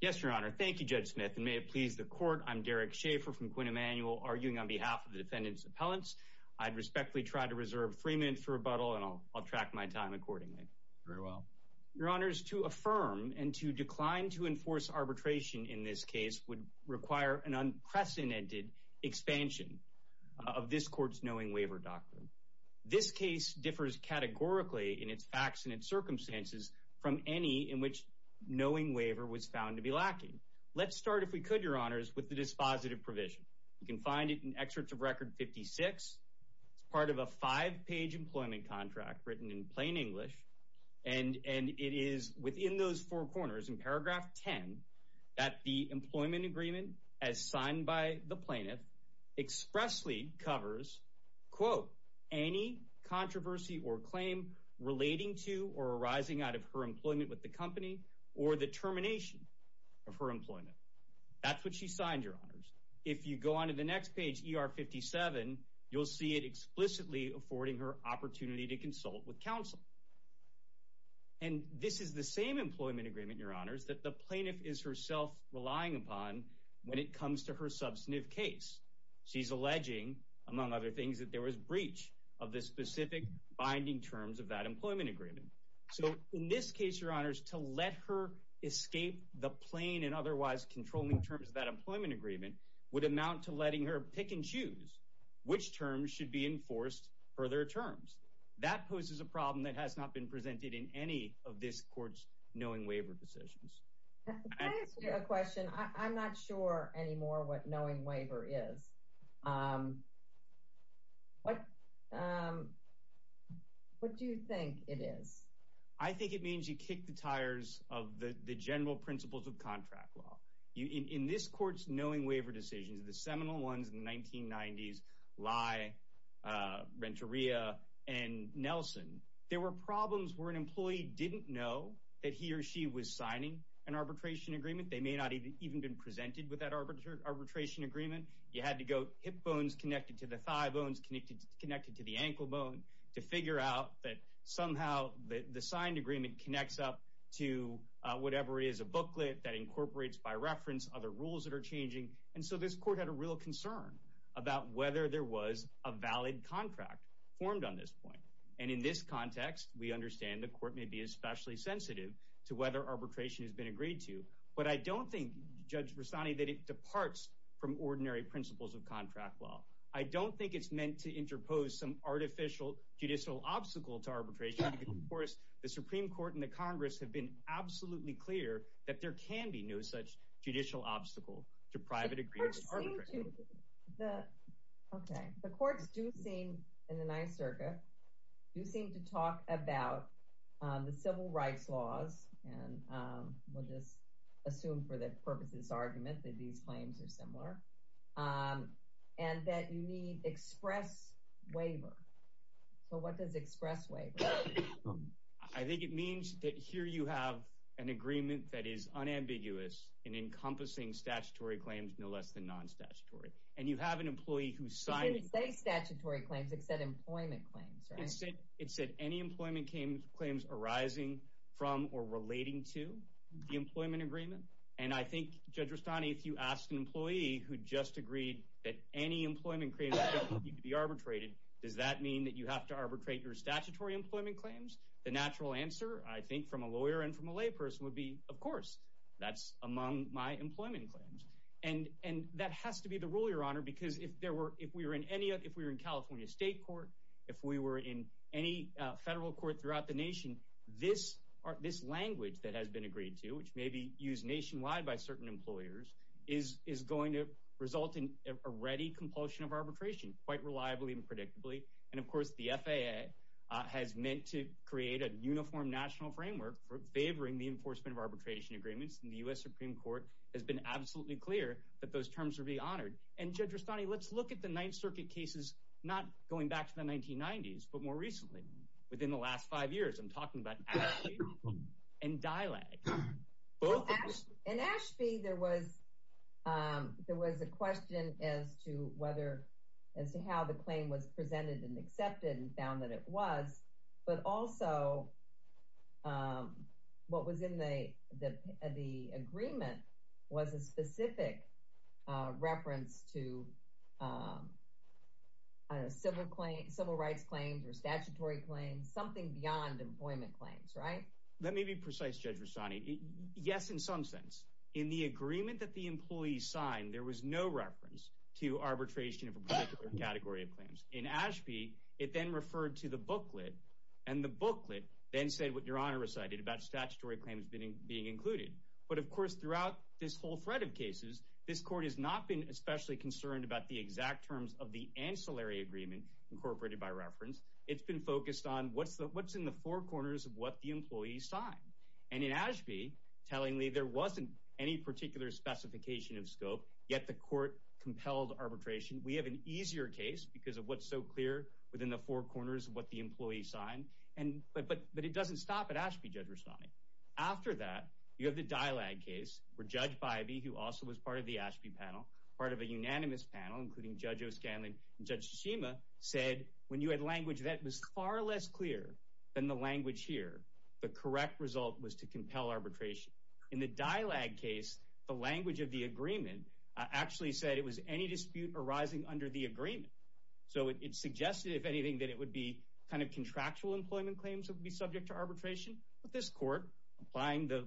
Yes, Your Honor. Thank you, Judge Smith. And may it please the Court, I'm Derek Schaffer from Quinn Emanuel, arguing on behalf of the defendant's appellants. I'd respectfully try to reserve three minutes for rebuttal, and I'll track my time accordingly. Very well. Your Honors, to affirm and to decline to enforce arbitration in this case would require an unprecedented expansion of this Court's Knowing Waiver doctrine. This case differs categorically in its facts and its circumstances from any in which Knowing Waiver was found to be lacking. Let's start, if we could, Your Honors, with the dispositive provision. You can find it in Excerpts of Record 56. It's part of a five-page employment contract written in plain English. And it is within those four corners, in paragraph 10, that the employment agreement as signed by the plaintiff expressly covers, quote, any controversy or claim relating to or arising out of her employment with the company or the termination of her employment. That's what she signed, Your Honors. If you go on to the next page, ER 57, you'll see it explicitly affording her opportunity to consult with counsel. And this is the same employment agreement, Your Honors, that the plaintiff is herself relying upon when it comes to her substantive case. She's alleging, among other things, that there was breach of the specific binding terms of that employment agreement. So in this case, Your Honors, to let her escape the plain and otherwise controlling terms of that employment agreement would amount to letting her pick and choose which terms should be enforced for their terms. That poses a problem that has not been presented in any of this Court's Knowing Waiver decisions. Can I ask you a question? I'm not sure anymore what Knowing Waiver is. What do you think it is? I think it means you kick the tires of the general principles of contract law. In this Court's Knowing Waiver decisions, the seminal ones in the 1990s, Lye, Renteria, and Nelson, there were problems where an employee didn't know that he or she was signing an arbitration agreement. They may not have even been presented with that arbitration agreement. You had to go hip bones connected to the thigh bones connected to the ankle bone to figure out that somehow the signed agreement connects up to whatever is a booklet that incorporates by reference other rules that are changing. And so this Court had a real concern about whether there was a valid contract formed on this point. And in this context, we understand the Court may be especially sensitive to whether arbitration has been agreed to. But I don't think, Judge Rastani, that it departs from ordinary principles of contract law. I don't think it's meant to interpose some artificial judicial obstacle to arbitration. Of course, the Supreme Court and the Congress have been absolutely clear that there can be no such judicial obstacle to private agreements. The courts do seem, in the Ninth Circuit, do seem to talk about the civil rights laws, and we'll just assume for the purpose of this argument that these claims are similar, and that you need express waiver. So what does express waiver mean? I think it means that here you have an agreement that is unambiguous in encompassing statutory claims no less than non-statutory. And you have an employee who signed… It didn't say statutory claims. It said employment claims, right? It said any employment claims arising from or relating to the employment agreement. And I think, Judge Rastani, if you asked an employee who just agreed that any employment claims don't need to be arbitrated, does that mean that you have to arbitrate your statutory employment claims? The natural answer, I think, from a lawyer and from a layperson would be, of course. That's among my employment claims. And that has to be the rule, Your Honor, because if we were in California State Court, if we were in any federal court throughout the nation, this language that has been agreed to, which may be used nationwide by certain employers, is going to result in a ready compulsion of arbitration quite reliably and predictably. And, of course, the FAA has meant to create a uniform national framework for favoring the enforcement of arbitration agreements. And the U.S. Supreme Court has been absolutely clear that those terms will be honored. And, Judge Rastani, let's look at the Ninth Circuit cases not going back to the 1990s but more recently. Within the last five years, I'm talking about Ashby and Dylag. In Ashby, there was a question as to how the claim was presented and accepted and found that it was. But also what was in the agreement was a specific reference to civil rights claims or statutory claims, something beyond employment claims, right? Let me be precise, Judge Rastani. Yes, in some sense. In the agreement that the employees signed, there was no reference to arbitration of a particular category of claims. In Ashby, it then referred to the booklet. And the booklet then said what Your Honor recited about statutory claims being included. But, of course, throughout this whole thread of cases, this court has not been especially concerned about the exact terms of the ancillary agreement incorporated by reference. It's been focused on what's in the four corners of what the employees signed. And in Ashby, tellingly, there wasn't any particular specification of scope, yet the court compelled arbitration. We have an easier case because of what's so clear within the four corners of what the employees signed. But it doesn't stop at Ashby, Judge Rastani. After that, you have the Dylag case where Judge Bybee, who also was part of the Ashby panel, part of a unanimous panel including Judge O'Scanlan and Judge Tsushima, said when you had language that was far less clear than the language here, the correct result was to compel arbitration. In the Dylag case, the language of the agreement actually said it was any dispute arising under the agreement. So it suggested, if anything, that it would be kind of contractual employment claims that would be subject to arbitration. But this court, applying the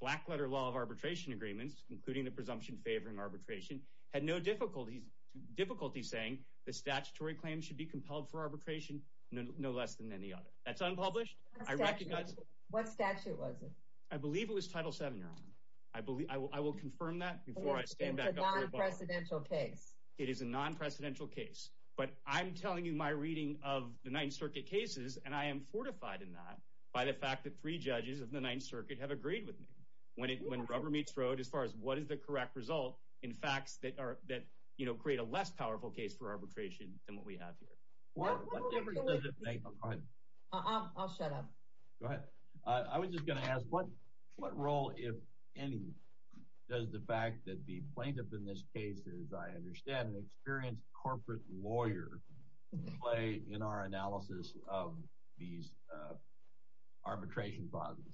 black-letter law of arbitration agreements, including the presumption favoring arbitration, had no difficulty saying that statutory claims should be compelled for arbitration, no less than any other. That's unpublished. What statute was it? I believe it was Title VII, Your Honor. I will confirm that before I stand back up here. It's a non-presidential case. It is a non-presidential case. But I'm telling you my reading of the Ninth Circuit cases, and I am fortified in that by the fact that three judges of the Ninth Circuit have agreed with me. When rubber meets road, as far as what is the correct result, in facts that create a less powerful case for arbitration than what we have here. What role, if any, does the fact that the plaintiff in this case is, I understand, an experienced corporate lawyer play in our analysis of these arbitration clauses?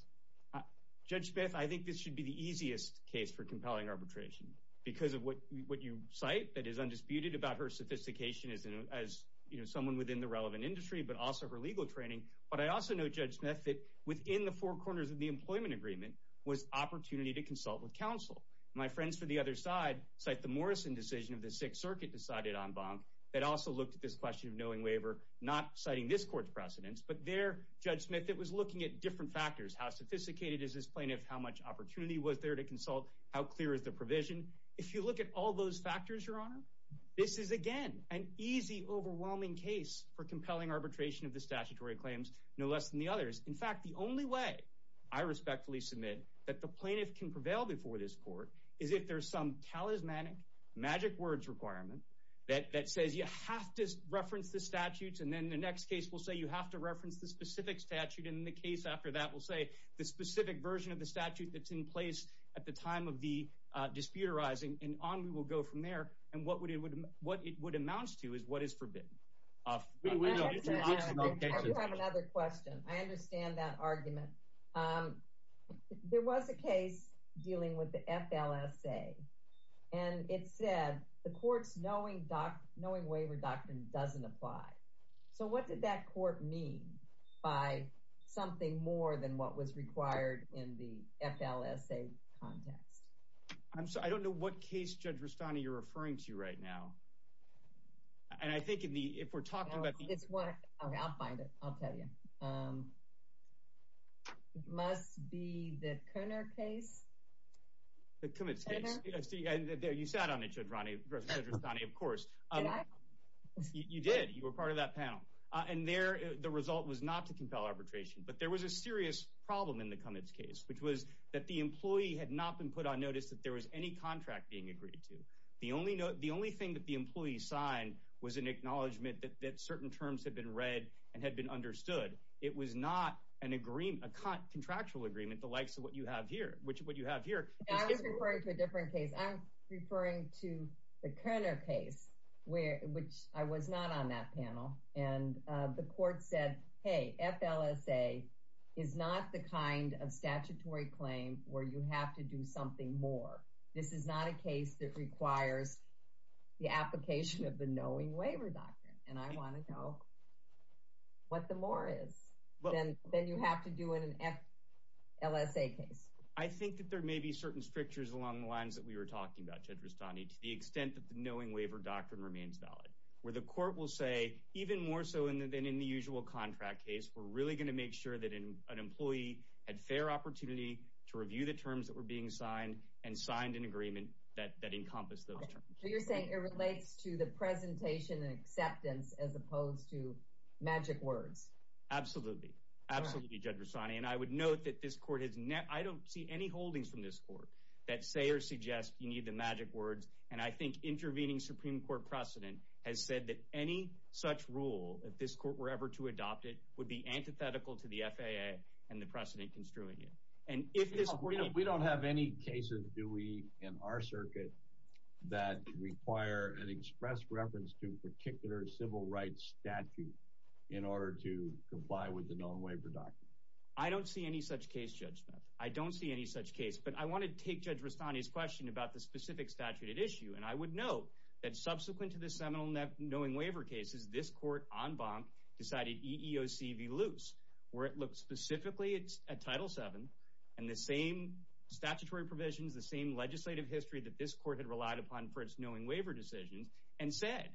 Judge Smith, I think this should be the easiest case for compelling arbitration, because of what you cite that is undisputed about her sophistication as someone within the relevant industry, but also her legal training. But I also know, Judge Smith, that within the four corners of the employment agreement was opportunity to consult with counsel. My friends from the other side cite the Morrison decision of the Sixth Circuit decided en banc that also looked at this question of knowing waiver, not citing this court's precedents. But there, Judge Smith, it was looking at different factors. How sophisticated is this plaintiff? How much opportunity was there to consult? How clear is the provision? If you look at all those factors, Your Honor, this is, again, an easy, overwhelming case for compelling arbitration of the statutory claims, no less than the others. In fact, the only way I respectfully submit that the plaintiff can prevail before this court is if there is some talismanic magic words requirement that says you have to reference the statutes, and then the next case will say you have to reference the specific statute, and then the case after that will say the specific version of the statute that's in place at the time of the disputerizing, and on we will go from there. And what it would amount to is what is forbidden. We have another question. I understand that argument. There was a case dealing with the FLSA, and it said the court's knowing waiver doctrine doesn't apply. So what did that court mean by something more than what was required in the FLSA context? I'm sorry. I don't know what case, Judge Rustani, you're referring to right now. And I think if we're talking about the… Okay, I'll find it. I'll tell you. It must be the Koenig case. The Koenig case. You sat on it, Judge Rustani, of course. Did I? You did. You were part of that panel. And the result was not to compel arbitration, but there was a serious problem in the Koenig case, which was that the employee had not been put on notice that there was any contract being agreed to. The only thing that the employee signed was an acknowledgment that certain terms had been read and had been understood. It was not a contractual agreement the likes of what you have here. I was referring to a different case. I'm referring to the Koenig case, which I was not on that panel. And the court said, hey, FLSA is not the kind of statutory claim where you have to do something more. This is not a case that requires the application of the knowing waiver doctrine. And I want to know what the more is than you have to do in an FLSA case. I think that there may be certain strictures along the lines that we were talking about, Judge Rustani, to the extent that the knowing waiver doctrine remains valid. Where the court will say even more so than in the usual contract case, we're really going to make sure that an employee had fair opportunity to review the terms that were being signed and signed an agreement that encompassed those terms. So you're saying it relates to the presentation and acceptance as opposed to magic words. Absolutely. Absolutely, Judge Rustani. And I would note that I don't see any holdings from this court that say or suggest you need the magic words. And I think intervening Supreme Court precedent has said that any such rule, if this court were ever to adopt it, would be antithetical to the FAA and the precedent construing it. We don't have any cases, do we, in our circuit that require an express reference to a particular civil rights statute in order to comply with the knowing waiver doctrine? I don't see any such case, Judge Smith. I don't see any such case. But I want to take Judge Rustani's question about the specific statute at issue. And I would note that subsequent to the seminal knowing waiver cases, this court, en banc, decided EEOC v. Luce, where it looked specifically at Title VII and the same statutory provisions, the same legislative history that this court had relied upon for its knowing waiver decisions, and said,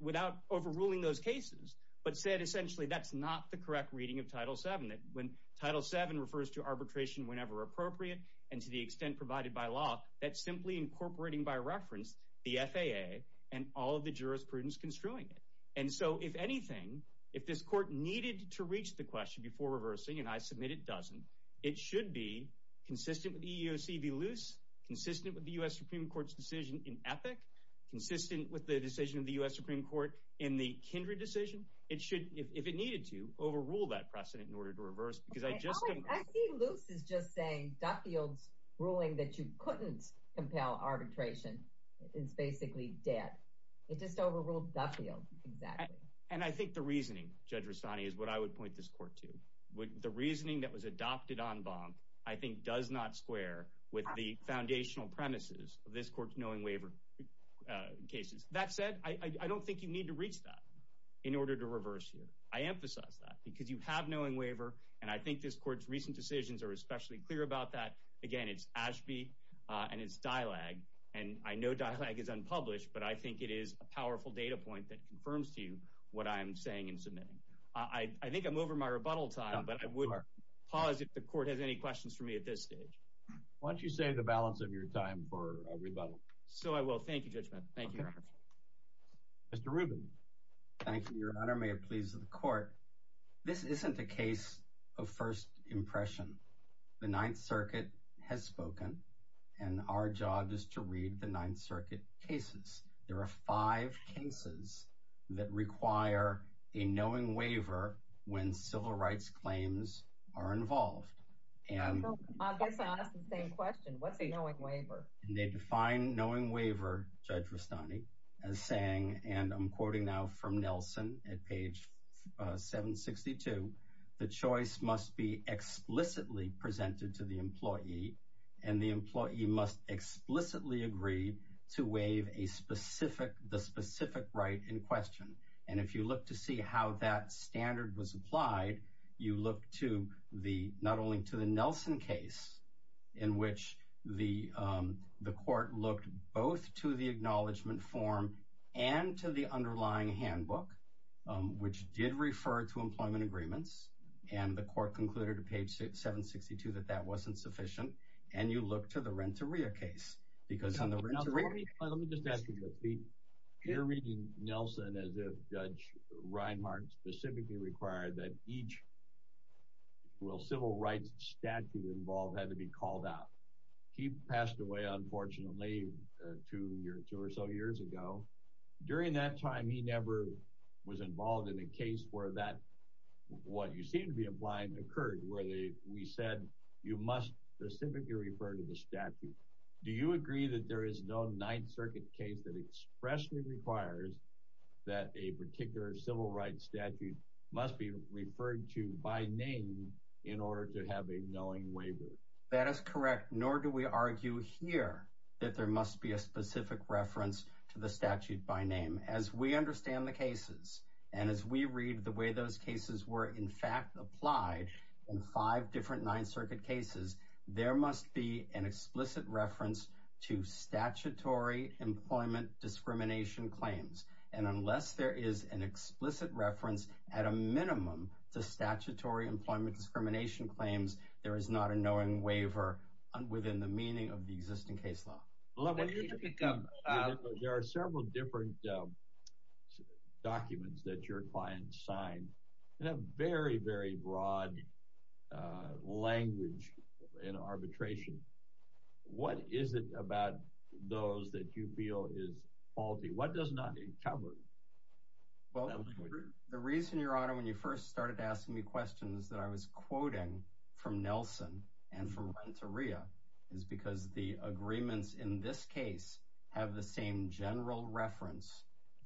without overruling those cases, but said essentially that's not the correct reading of Title VII. When Title VII refers to arbitration whenever appropriate and to the extent provided by law, that's simply incorporating by reference the FAA and all of the jurisprudence construing it. And so if anything, if this court needed to reach the question before reversing, and I submit it doesn't, it should be consistent with EEOC v. Luce, consistent with the U.S. Supreme Court's decision in ethic, consistent with the decision of the U.S. Supreme Court in the Kindred decision, it should, if it needed to, overrule that precedent in order to reverse. I see Luce as just saying Duffield's ruling that you couldn't compel arbitration is basically dead. It just overruled Duffield, exactly. And I think the reasoning, Judge Rustani, is what I would point this court to. The reasoning that was adopted on Bonk I think does not square with the foundational premises of this court's knowing waiver cases. That said, I don't think you need to reach that in order to reverse here. I emphasize that because you have knowing waiver, and I think this court's recent decisions are especially clear about that. Again, it's Ashby and it's DILAG, and I know DILAG is unpublished, but I think it is a powerful data point that confirms to you what I am saying in submitting. I think I'm over my rebuttal time, but I would pause if the court has any questions for me at this stage. Why don't you save the balance of your time for a rebuttal? So I will. Thank you, Judge Mann. Thank you, Your Honor. Mr. Rubin. Thank you, Your Honor. May it please the court. This isn't a case of first impression. The Ninth Circuit has spoken, and our job is to read the Ninth Circuit cases. There are five cases that require a knowing waiver when civil rights claims are involved. I guess I'll ask the same question. What's a knowing waiver? They define knowing waiver, Judge Rustani, as saying, and I'm quoting now from Nelson at page 762, the choice must be explicitly presented to the employee, and the employee must explicitly agree to waive the specific right in question. And if you look to see how that standard was applied, you look not only to the Nelson case, in which the court looked both to the acknowledgment form and to the underlying handbook, which did refer to employment agreements, and the court concluded at page 762 that that wasn't sufficient, and you look to the Renteria case. Let me just ask you this, Pete. You're reading Nelson as if Judge Reinhart specifically required that each civil rights statute involved had to be called out. He passed away, unfortunately, two or so years ago. During that time, he never was involved in a case where that, what you seem to be implying, occurred, where we said you must specifically refer to the statute. Do you agree that there is no Ninth Circuit case that expressly requires that a particular civil rights statute must be referred to by name in order to have a knowing waiver? That is correct, nor do we argue here that there must be a specific reference to the statute by name. As we understand the cases, and as we read the way those cases were in fact applied in five different Ninth Circuit cases, there must be an explicit reference to statutory employment discrimination claims. And unless there is an explicit reference at a minimum to statutory employment discrimination claims, there is not a knowing waiver within the meaning of the existing case law. There are several different documents that your client signed in a very, very broad language in arbitration. What is it about those that you feel is faulty? Well, the reason, your honor, when you first started asking me questions that I was quoting from Nelson and from Renteria is because the agreements in this case have the same general reference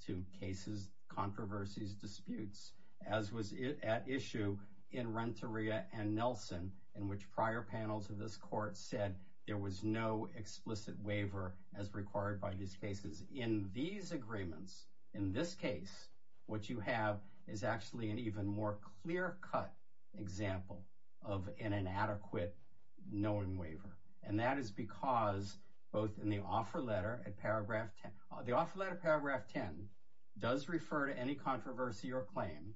to cases, controversies, disputes, as was at issue in Renteria and Nelson, in which prior panels of this court said there was no explicit waiver as required by these cases. In these agreements, in this case, what you have is actually an even more clear-cut example of an inadequate knowing waiver. And that is because both in the offer letter at paragraph 10, the offer letter at paragraph 10 does refer to any controversy or claim,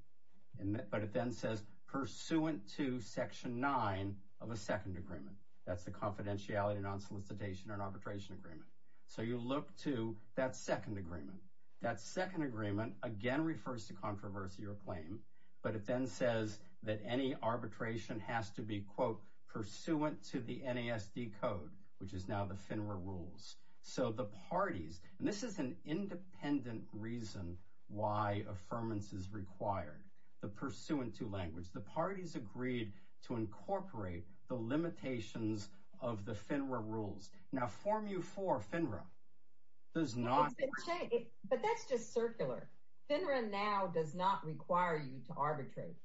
but it then says, pursuant to section 9 of a second agreement. That's the confidentiality, non-solicitation, and arbitration agreement. So you look to that second agreement. That second agreement, again, refers to controversy or claim, but it then says that any arbitration has to be, quote, pursuant to the NASD code, which is now the FINRA rules. So the parties, and this is an independent reason why affirmance is required, the pursuant to language. The parties agreed to incorporate the limitations of the FINRA rules. Now, Form U4 FINRA does not... But that's just circular. FINRA now does not require you to arbitrate.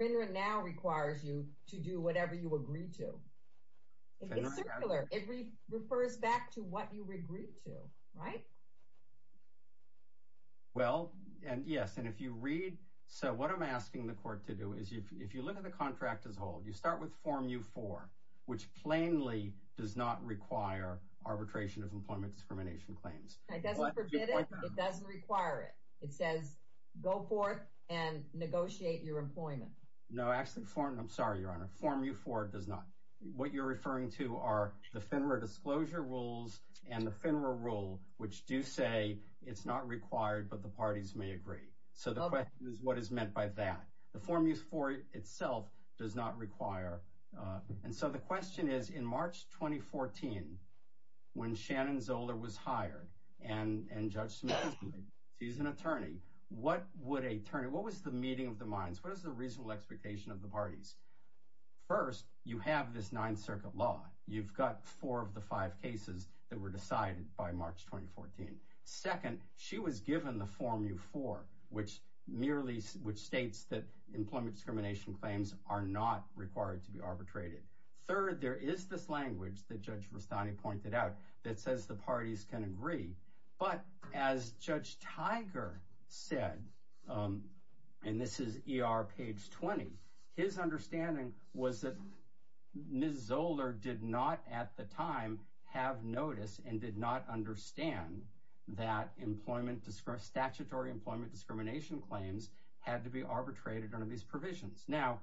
FINRA now requires you to do whatever you agree to. It's circular. It refers back to what you agreed to, right? Well, yes, and if you read... Now, what I'm asking the court to do is, if you look at the contract as a whole, you start with Form U4, which plainly does not require arbitration of employment discrimination claims. It doesn't forbid it. It doesn't require it. It says, go forth and negotiate your employment. No, actually, I'm sorry, Your Honor. Form U4 does not. What you're referring to are the FINRA disclosure rules and the FINRA rule, which do say it's not required, but the parties may agree. So the question is, what is meant by that? The Form U4 itself does not require... And so the question is, in March 2014, when Shannon Zoller was hired, and Judge Smith is an attorney, what would a... What was the meeting of the minds? What is the reasonable expectation of the parties? First, you have this Ninth Circuit law. You've got four of the five cases that were decided by March 2014. Second, she was given the Form U4, which merely states that employment discrimination claims are not required to be arbitrated. Third, there is this language that Judge Rustani pointed out that says the parties can agree, but as Judge Tiger said, and this is ER page 20, his understanding was that Ms. Zoller did not, at the time, have notice and did not understand that statutory employment discrimination claims had to be arbitrated under these provisions. Now,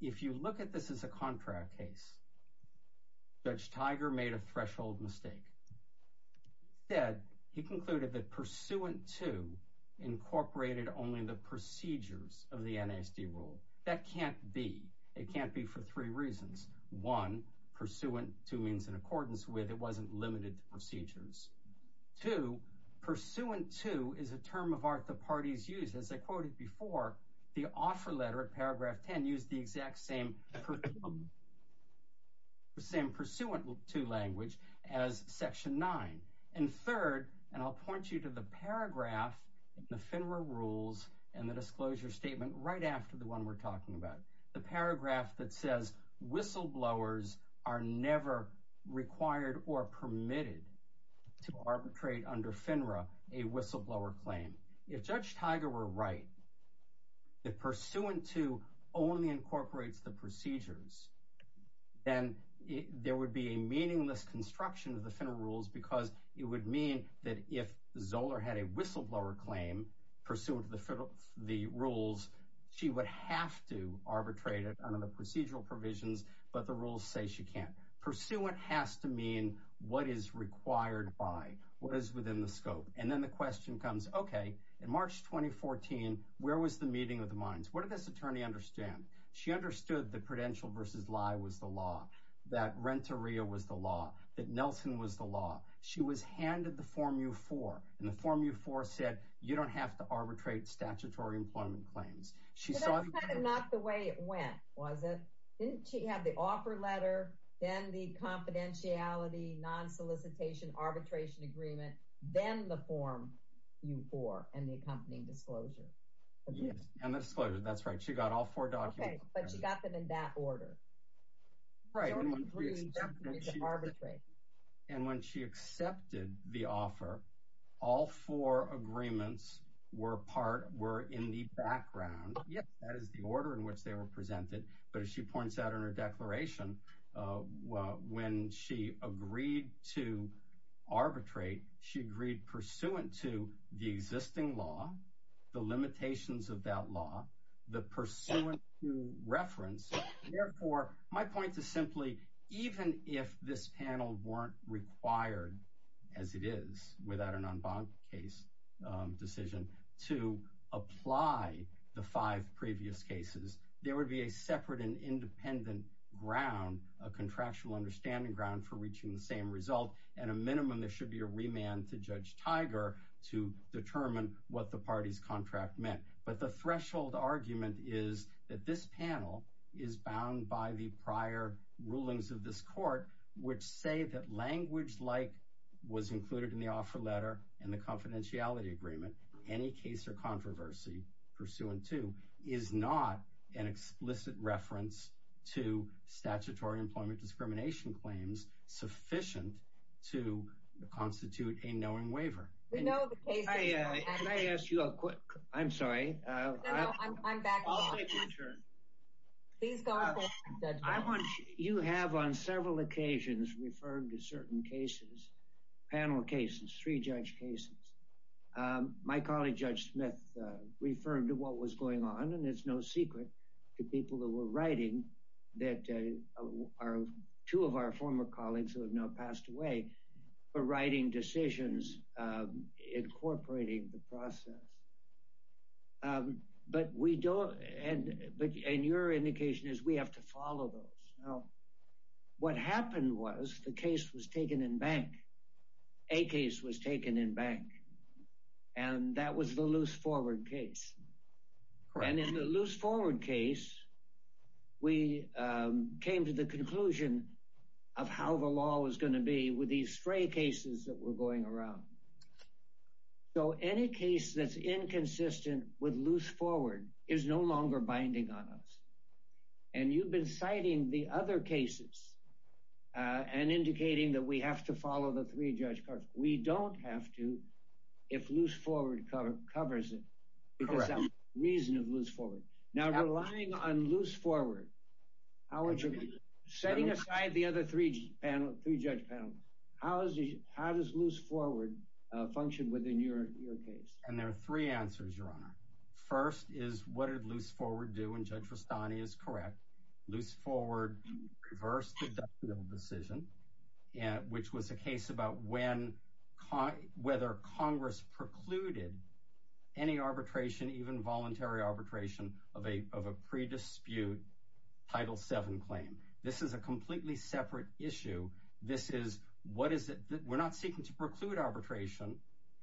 if you look at this as a contract case, Judge Tiger made a threshold mistake. He concluded that Pursuant 2 incorporated only the procedures of the NISD rule. That can't be. It can't be for three reasons. One, Pursuant 2 means in accordance with. It wasn't limited to procedures. Two, Pursuant 2 is a term of art that parties use. As I quoted before, the offer letter at paragraph 10 used the exact same Pursuant 2 language as section 9. And third, and I'll point you to the paragraph in the FINRA rules and the disclosure statement right after the one we're talking about. The paragraph that says whistleblowers are never required or permitted to arbitrate under FINRA a whistleblower claim. If Judge Tiger were right, if Pursuant 2 only incorporates the procedures, then there would be a meaningless construction of the FINRA rules because it would mean that if Zoller had a whistleblower claim pursuant to the rules, she would have to arbitrate it under the procedural provisions, but the rules say she can't. Pursuant has to mean what is required by, what is within the scope. And then the question comes, okay, in March 2014, where was the meeting of the minds? What did this attorney understand? She understood that Prudential v. Lye was the law, that Renteria was the law, that Nelson was the law. She was handed the Form U-4, and the Form U-4 said, you don't have to arbitrate statutory employment claims. But that was kind of not the way it went, was it? Didn't she have the offer letter, then the confidentiality, non-solicitation arbitration agreement, then the Form U-4 and the accompanying disclosure? Yes, and the disclosure, that's right. She got all four documents. Okay, but she got them in that order. Right, and when she accepted the offer, all four agreements were in the background. Yes. That is the order in which they were presented. But as she points out in her declaration, when she agreed to arbitrate, she agreed pursuant to the existing law, the limitations of that law, the pursuant to reference. Therefore, my point is simply, even if this panel weren't required, as it is, without an en banc case decision, to apply the five previous cases, there would be a separate and independent ground, a contractual understanding ground, for reaching the same result. At a minimum, there should be a remand to Judge Tiger to determine what the party's contract meant. But the threshold argument is that this panel is bound by the prior rulings of this court, which say that language like was included in the offer letter and the confidentiality agreement, any case or controversy pursuant to, is not an explicit reference to statutory employment discrimination claims sufficient to constitute a knowing waiver. We know the cases. Can I ask you a quick, I'm sorry. No, no, I'm back. I'll take your turn. Please go ahead, Judge. You have on several occasions referred to certain cases, panel cases, three judge cases. My colleague Judge Smith referred to what was going on, and it's no secret to people who were writing that two of our former colleagues who have now passed away were writing decisions incorporating the process. But we don't, and your indication is we have to follow those. What happened was the case was taken in bank. A case was taken in bank. And that was the loose forward case. And in the loose forward case, we came to the conclusion of how the law was going to be with these stray cases that were going around. So any case that's inconsistent with loose forward is no longer binding on us. And you've been citing the other cases and indicating that we have to follow the three judge cards. We don't have to if loose forward covers it. Correct. Because that's the reason of loose forward. Now, relying on loose forward, how would you, setting aside the other three panel, three judge panels, how does loose forward function within your case? And there are three answers, Your Honor. First is what did loose forward do? And Judge Rustani is correct. Loose forward reversed the Duffield decision, which was a case about when, whether Congress precluded any arbitration, even voluntary arbitration of a pre-dispute Title VII claim. This is a completely separate issue. This is what is it? We're not seeking to preclude arbitration.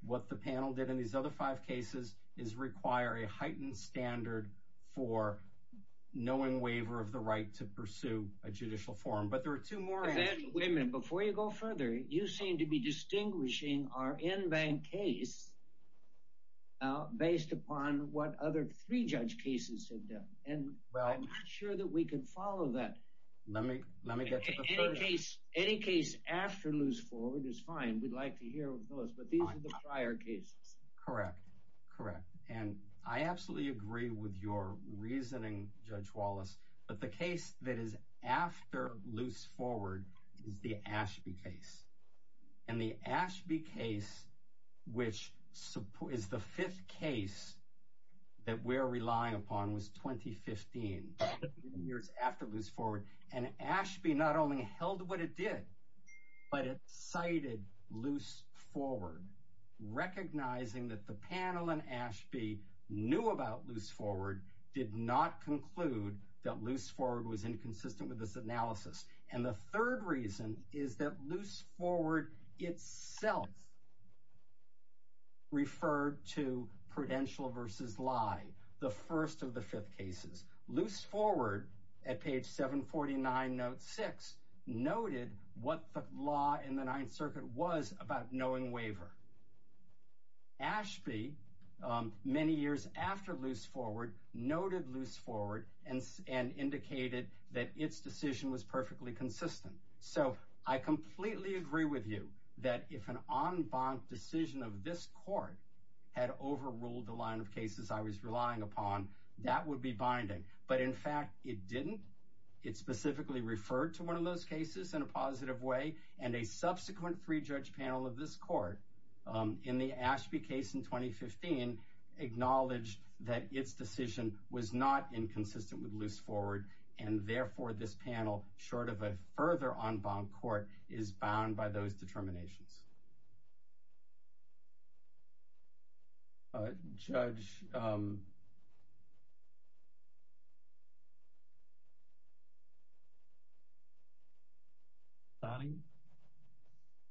What the panel did in these other five cases is require a heightened standard for knowing waiver of the right to pursue a judicial forum. But there are two more. Wait a minute. Before you go further, you seem to be distinguishing our in-bank case based upon what other three judge cases have done. And I'm not sure that we can follow that. Let me get to the further. Any case after loose forward is fine. We'd like to hear those, but these are the prior cases. Correct, correct. And I absolutely agree with your reasoning, Judge Wallace, but the case that is after loose forward is the Ashby case. And the Ashby case, which is the fifth case that we're relying upon, was 2015, years after loose forward. And Ashby not only held what it did, but it cited loose forward, recognizing that the panel in Ashby knew about loose forward, did not conclude that loose forward was inconsistent with this analysis. And the third reason is that loose forward itself referred to prudential versus lie, the first of the fifth cases. Loose forward, at page 749, note six, noted what the law in the Ninth Circuit was about knowing waiver. Ashby, many years after loose forward, noted loose forward and indicated that its decision was perfectly consistent. So I completely agree with you that if an en banc decision of this court had overruled the line of cases I was relying upon, that would be binding. But in fact, it didn't. It specifically referred to one of those cases in a positive way, and a subsequent three-judge panel of this court in the Ashby case in 2015 acknowledged that its decision was not inconsistent with loose forward, and therefore this panel, short of a further en banc court, is bound by those determinations. Judge Sonning?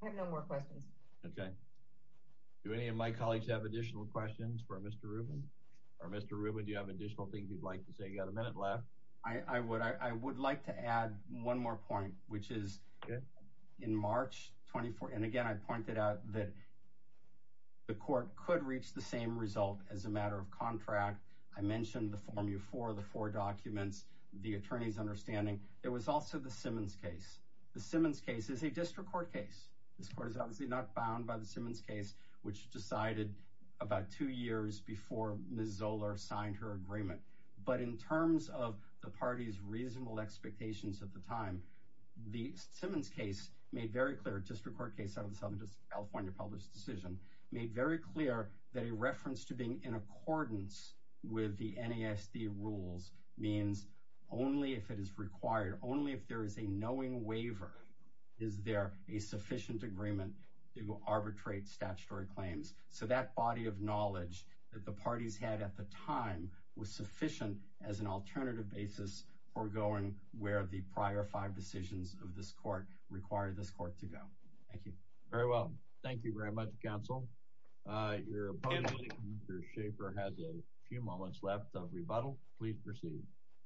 I have no more questions. Okay. Do any of my colleagues have additional questions for Mr. Rubin? Mr. Rubin, do you have additional things you'd like to say? You've got a minute left. I would like to add one more point, which is in March 2014, again, I pointed out that the court could reach the same result as a matter of contract. I mentioned the formula for the four documents, the attorney's understanding. There was also the Simmons case. The Simmons case is a district court case. This court is obviously not bound by the Simmons case, which decided about two years before Ms. Zoller signed her agreement. But in terms of the party's reasonable expectations at the time, the Simmons case made very clear, a district court case out of the Southern California Published Decision, made very clear that a reference to being in accordance with the NASD rules means only if it is required, only if there is a knowing waiver, is there a sufficient agreement to arbitrate statutory claims. So that body of knowledge that the parties had at the time was sufficient as an alternative basis for going where the prior five decisions of this court required this court to go. Thank you. Very well. Thank you very much, counsel. Your opponent, Mr. Schaefer, has a few moments left of rebuttal. Please proceed.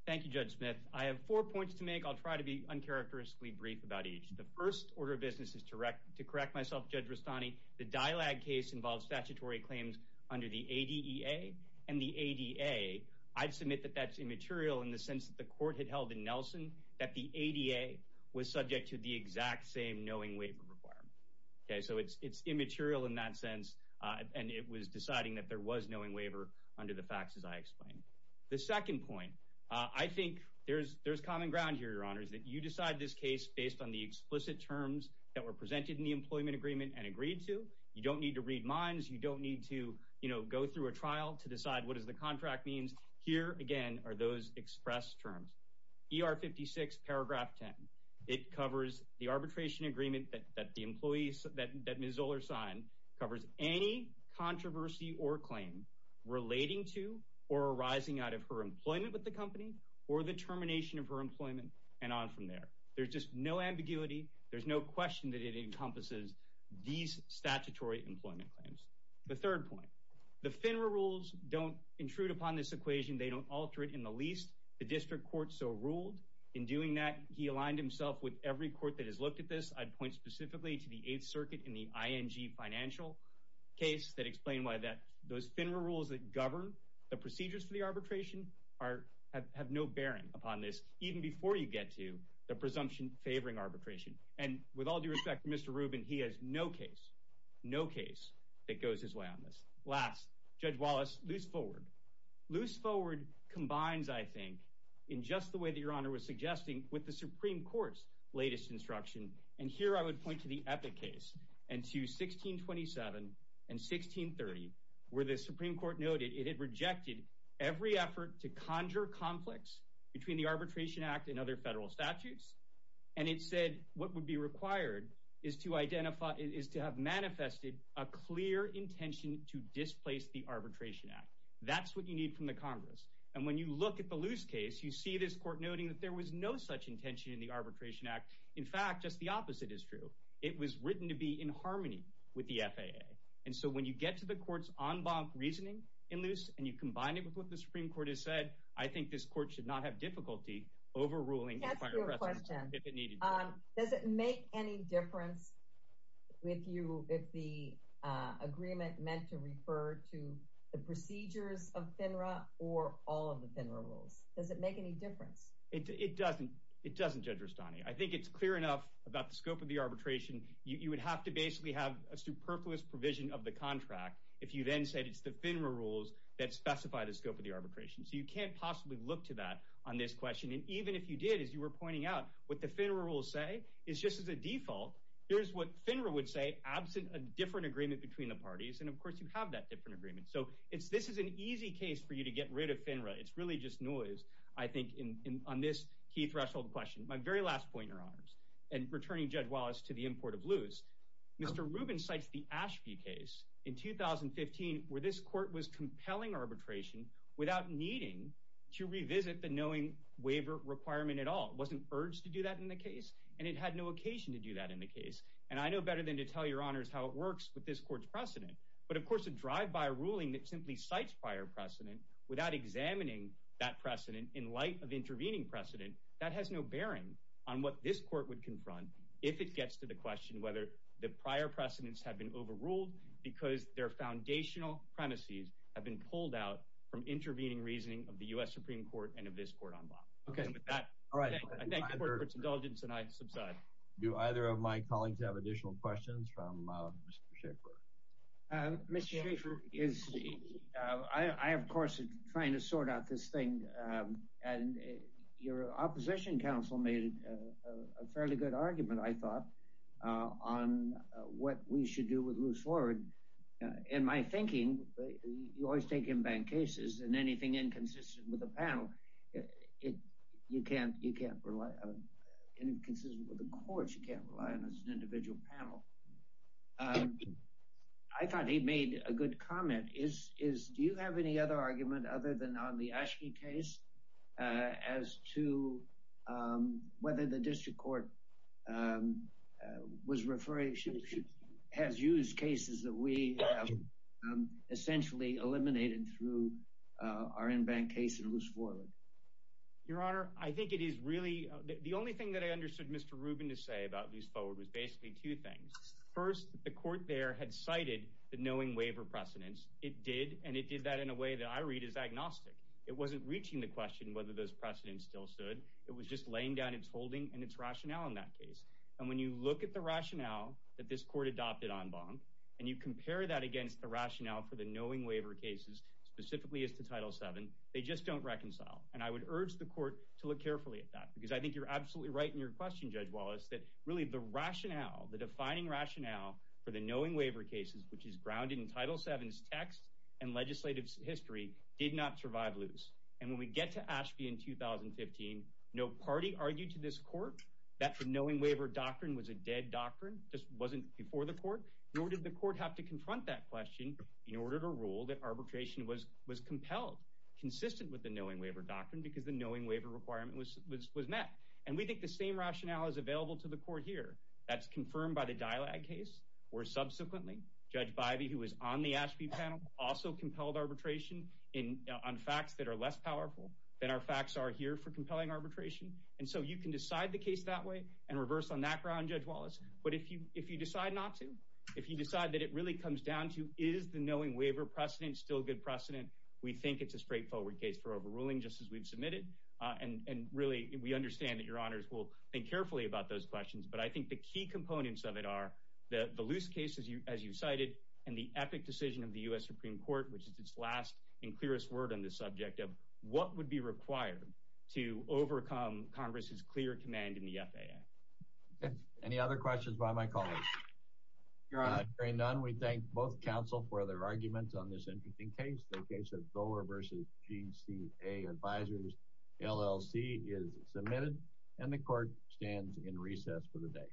Thank you, Judge Smith. I have four points to make. I'll try to be uncharacteristically brief about each. The first order of business is to correct myself, Judge Rustani, the DILAG case involves statutory claims under the ADEA and the ADA. I'd submit that that's immaterial in the sense that the court had held in Nelson that the ADA was subject to the exact same knowing waiver requirement. So it's immaterial in that sense, and it was deciding that there was knowing waiver under the facts as I explained. The second point, I think there's common ground here, Your Honors, that you decide this case based on the explicit terms that were presented in the employment agreement and agreed to. You don't need to read minds. You don't need to go through a trial to decide what the contract means. Here, again, are those expressed terms. ER 56, paragraph 10. It covers the arbitration agreement that Ms. Zoller signed, covers any controversy or claim relating to or arising out of her employment with the company or the termination of her employment, and on from there. There's just no ambiguity. There's no question that it encompasses these statutory employment claims. The third point, the FINRA rules don't intrude upon this equation. They don't alter it in the least. The district court so ruled. In doing that, he aligned himself with every court that has looked at this. I'd point specifically to the Eighth Circuit in the ING financial case that explained why those FINRA rules that govern the procedures for the arbitration have no bearing upon this, even before you get to the presumption favoring arbitration, and with all due respect to Mr. Rubin, he has no case, no case that goes his way on this. Last, Judge Wallace, loose forward. Loose forward combines, I think, in just the way that Your Honor was suggesting with the Supreme Court's latest instruction, and here I would point to the Epic case and to 1627 and 1630, where the Supreme Court noted it had rejected every effort to conjure conflicts between the Arbitration Act and other federal statutes, and it said what would be required is to have manifested a clear intention to displace the Arbitration Act. That's what you need from the Congress, and when you look at the loose case, you see this court noting that there was no such intention in the Arbitration Act. In fact, just the opposite is true. It was written to be in harmony with the FAA, and so when you get to the court's en banc reasoning in loose and you combine it with what the Supreme Court has said, I think this court should not have difficulty overruling the final precedent if it needed to. Does it make any difference if the agreement meant to refer to the procedures of FINRA or all of the FINRA rules? Does it make any difference? It doesn't, Judge Rustani. I think it's clear enough about the scope of the arbitration. You would have to basically have a superfluous provision of the contract if you then said it's the FINRA rules that specify the scope of the arbitration. So you can't possibly look to that on this question, and even if you did, as you were pointing out, what the FINRA rules say is just as a default, here's what FINRA would say absent a different agreement between the parties, and, of course, you have that different agreement. So this is an easy case for you to get rid of FINRA. It's really just noise, I think, on this key threshold question. My very last point, Your Honors, and returning Judge Wallace to the import of loose, Mr. Rubin cites the Ashby case in 2015 where this court was compelling arbitration without needing to revisit the knowing waiver requirement at all. It wasn't urged to do that in the case, and it had no occasion to do that in the case. And I know better than to tell Your Honors how it works with this court's precedent. But, of course, a drive-by ruling that simply cites prior precedent without examining that precedent in light of intervening precedent, that has no bearing on what this court would confront if it gets to the question whether the prior precedents have been overruled because their foundational premises have been pulled out from intervening reasoning of the U.S. Supreme Court and of this court on law. And with that, I thank the Court for its indulgence, and I subside. Do either of my colleagues have additional questions from Mr. Schaefer? Mr. Schaefer, I, of course, am trying to sort out this thing, and your opposition counsel made a fairly good argument, I thought, on what we should do with loose forward. In my thinking, you always take in bank cases, and anything inconsistent with the panel, you can't rely on. Inconsistent with the courts, you can't rely on as an individual panel. I thought he made a good comment. Do you have any other argument other than on the Aschke case as to whether the district court has used cases that we have essentially eliminated through our in-bank case in loose forward? Your Honor, I think it is really— the only thing that I understood Mr. Rubin to say about loose forward was basically two things. First, the court there had cited the knowing waiver precedents. It did, and it did that in a way that I read as agnostic. It wasn't reaching the question whether those precedents still stood. It was just laying down its holding and its rationale in that case. And when you look at the rationale that this court adopted on bond, and you compare that against the rationale for the knowing waiver cases, specifically as to Title VII, they just don't reconcile. And I would urge the court to look carefully at that, because I think you're absolutely right in your question, Judge Wallace, that really the rationale, the defining rationale for the knowing waiver cases, which is grounded in Title VII's text and legislative history, did not survive loose. And when we get to Aschke in 2015, no party argued to this court that the knowing waiver doctrine was a dead doctrine, just wasn't before the court, nor did the court have to confront that question in order to rule that arbitration was compelled, consistent with the knowing waiver doctrine, because the knowing waiver requirement was met. And we think the same rationale is available to the court here. That's confirmed by the DILAG case, where subsequently Judge Bivey, who was on the Aschke panel, also compelled arbitration on facts that are less powerful than our facts are here for compelling arbitration. And so you can decide the case that way and reverse on that ground, Judge Wallace. But if you decide not to, if you decide that it really comes down to is the knowing waiver precedent still a good precedent, we think it's a straightforward case for overruling, just as we've submitted. And really, we understand that Your Honors will think carefully about those questions. But I think the key components of it are the loose cases, as you cited, and the epic decision of the U.S. Supreme Court, which is its last and clearest word on this subject of what would be required to overcome Congress's clear command in the FAA. Any other questions by my colleagues? Your Honor, there are none. We thank both counsel for their arguments on this interesting case, the case of Zoller v. GCA Advisors, LLC, is submitted, and the Court stands in recess for the day.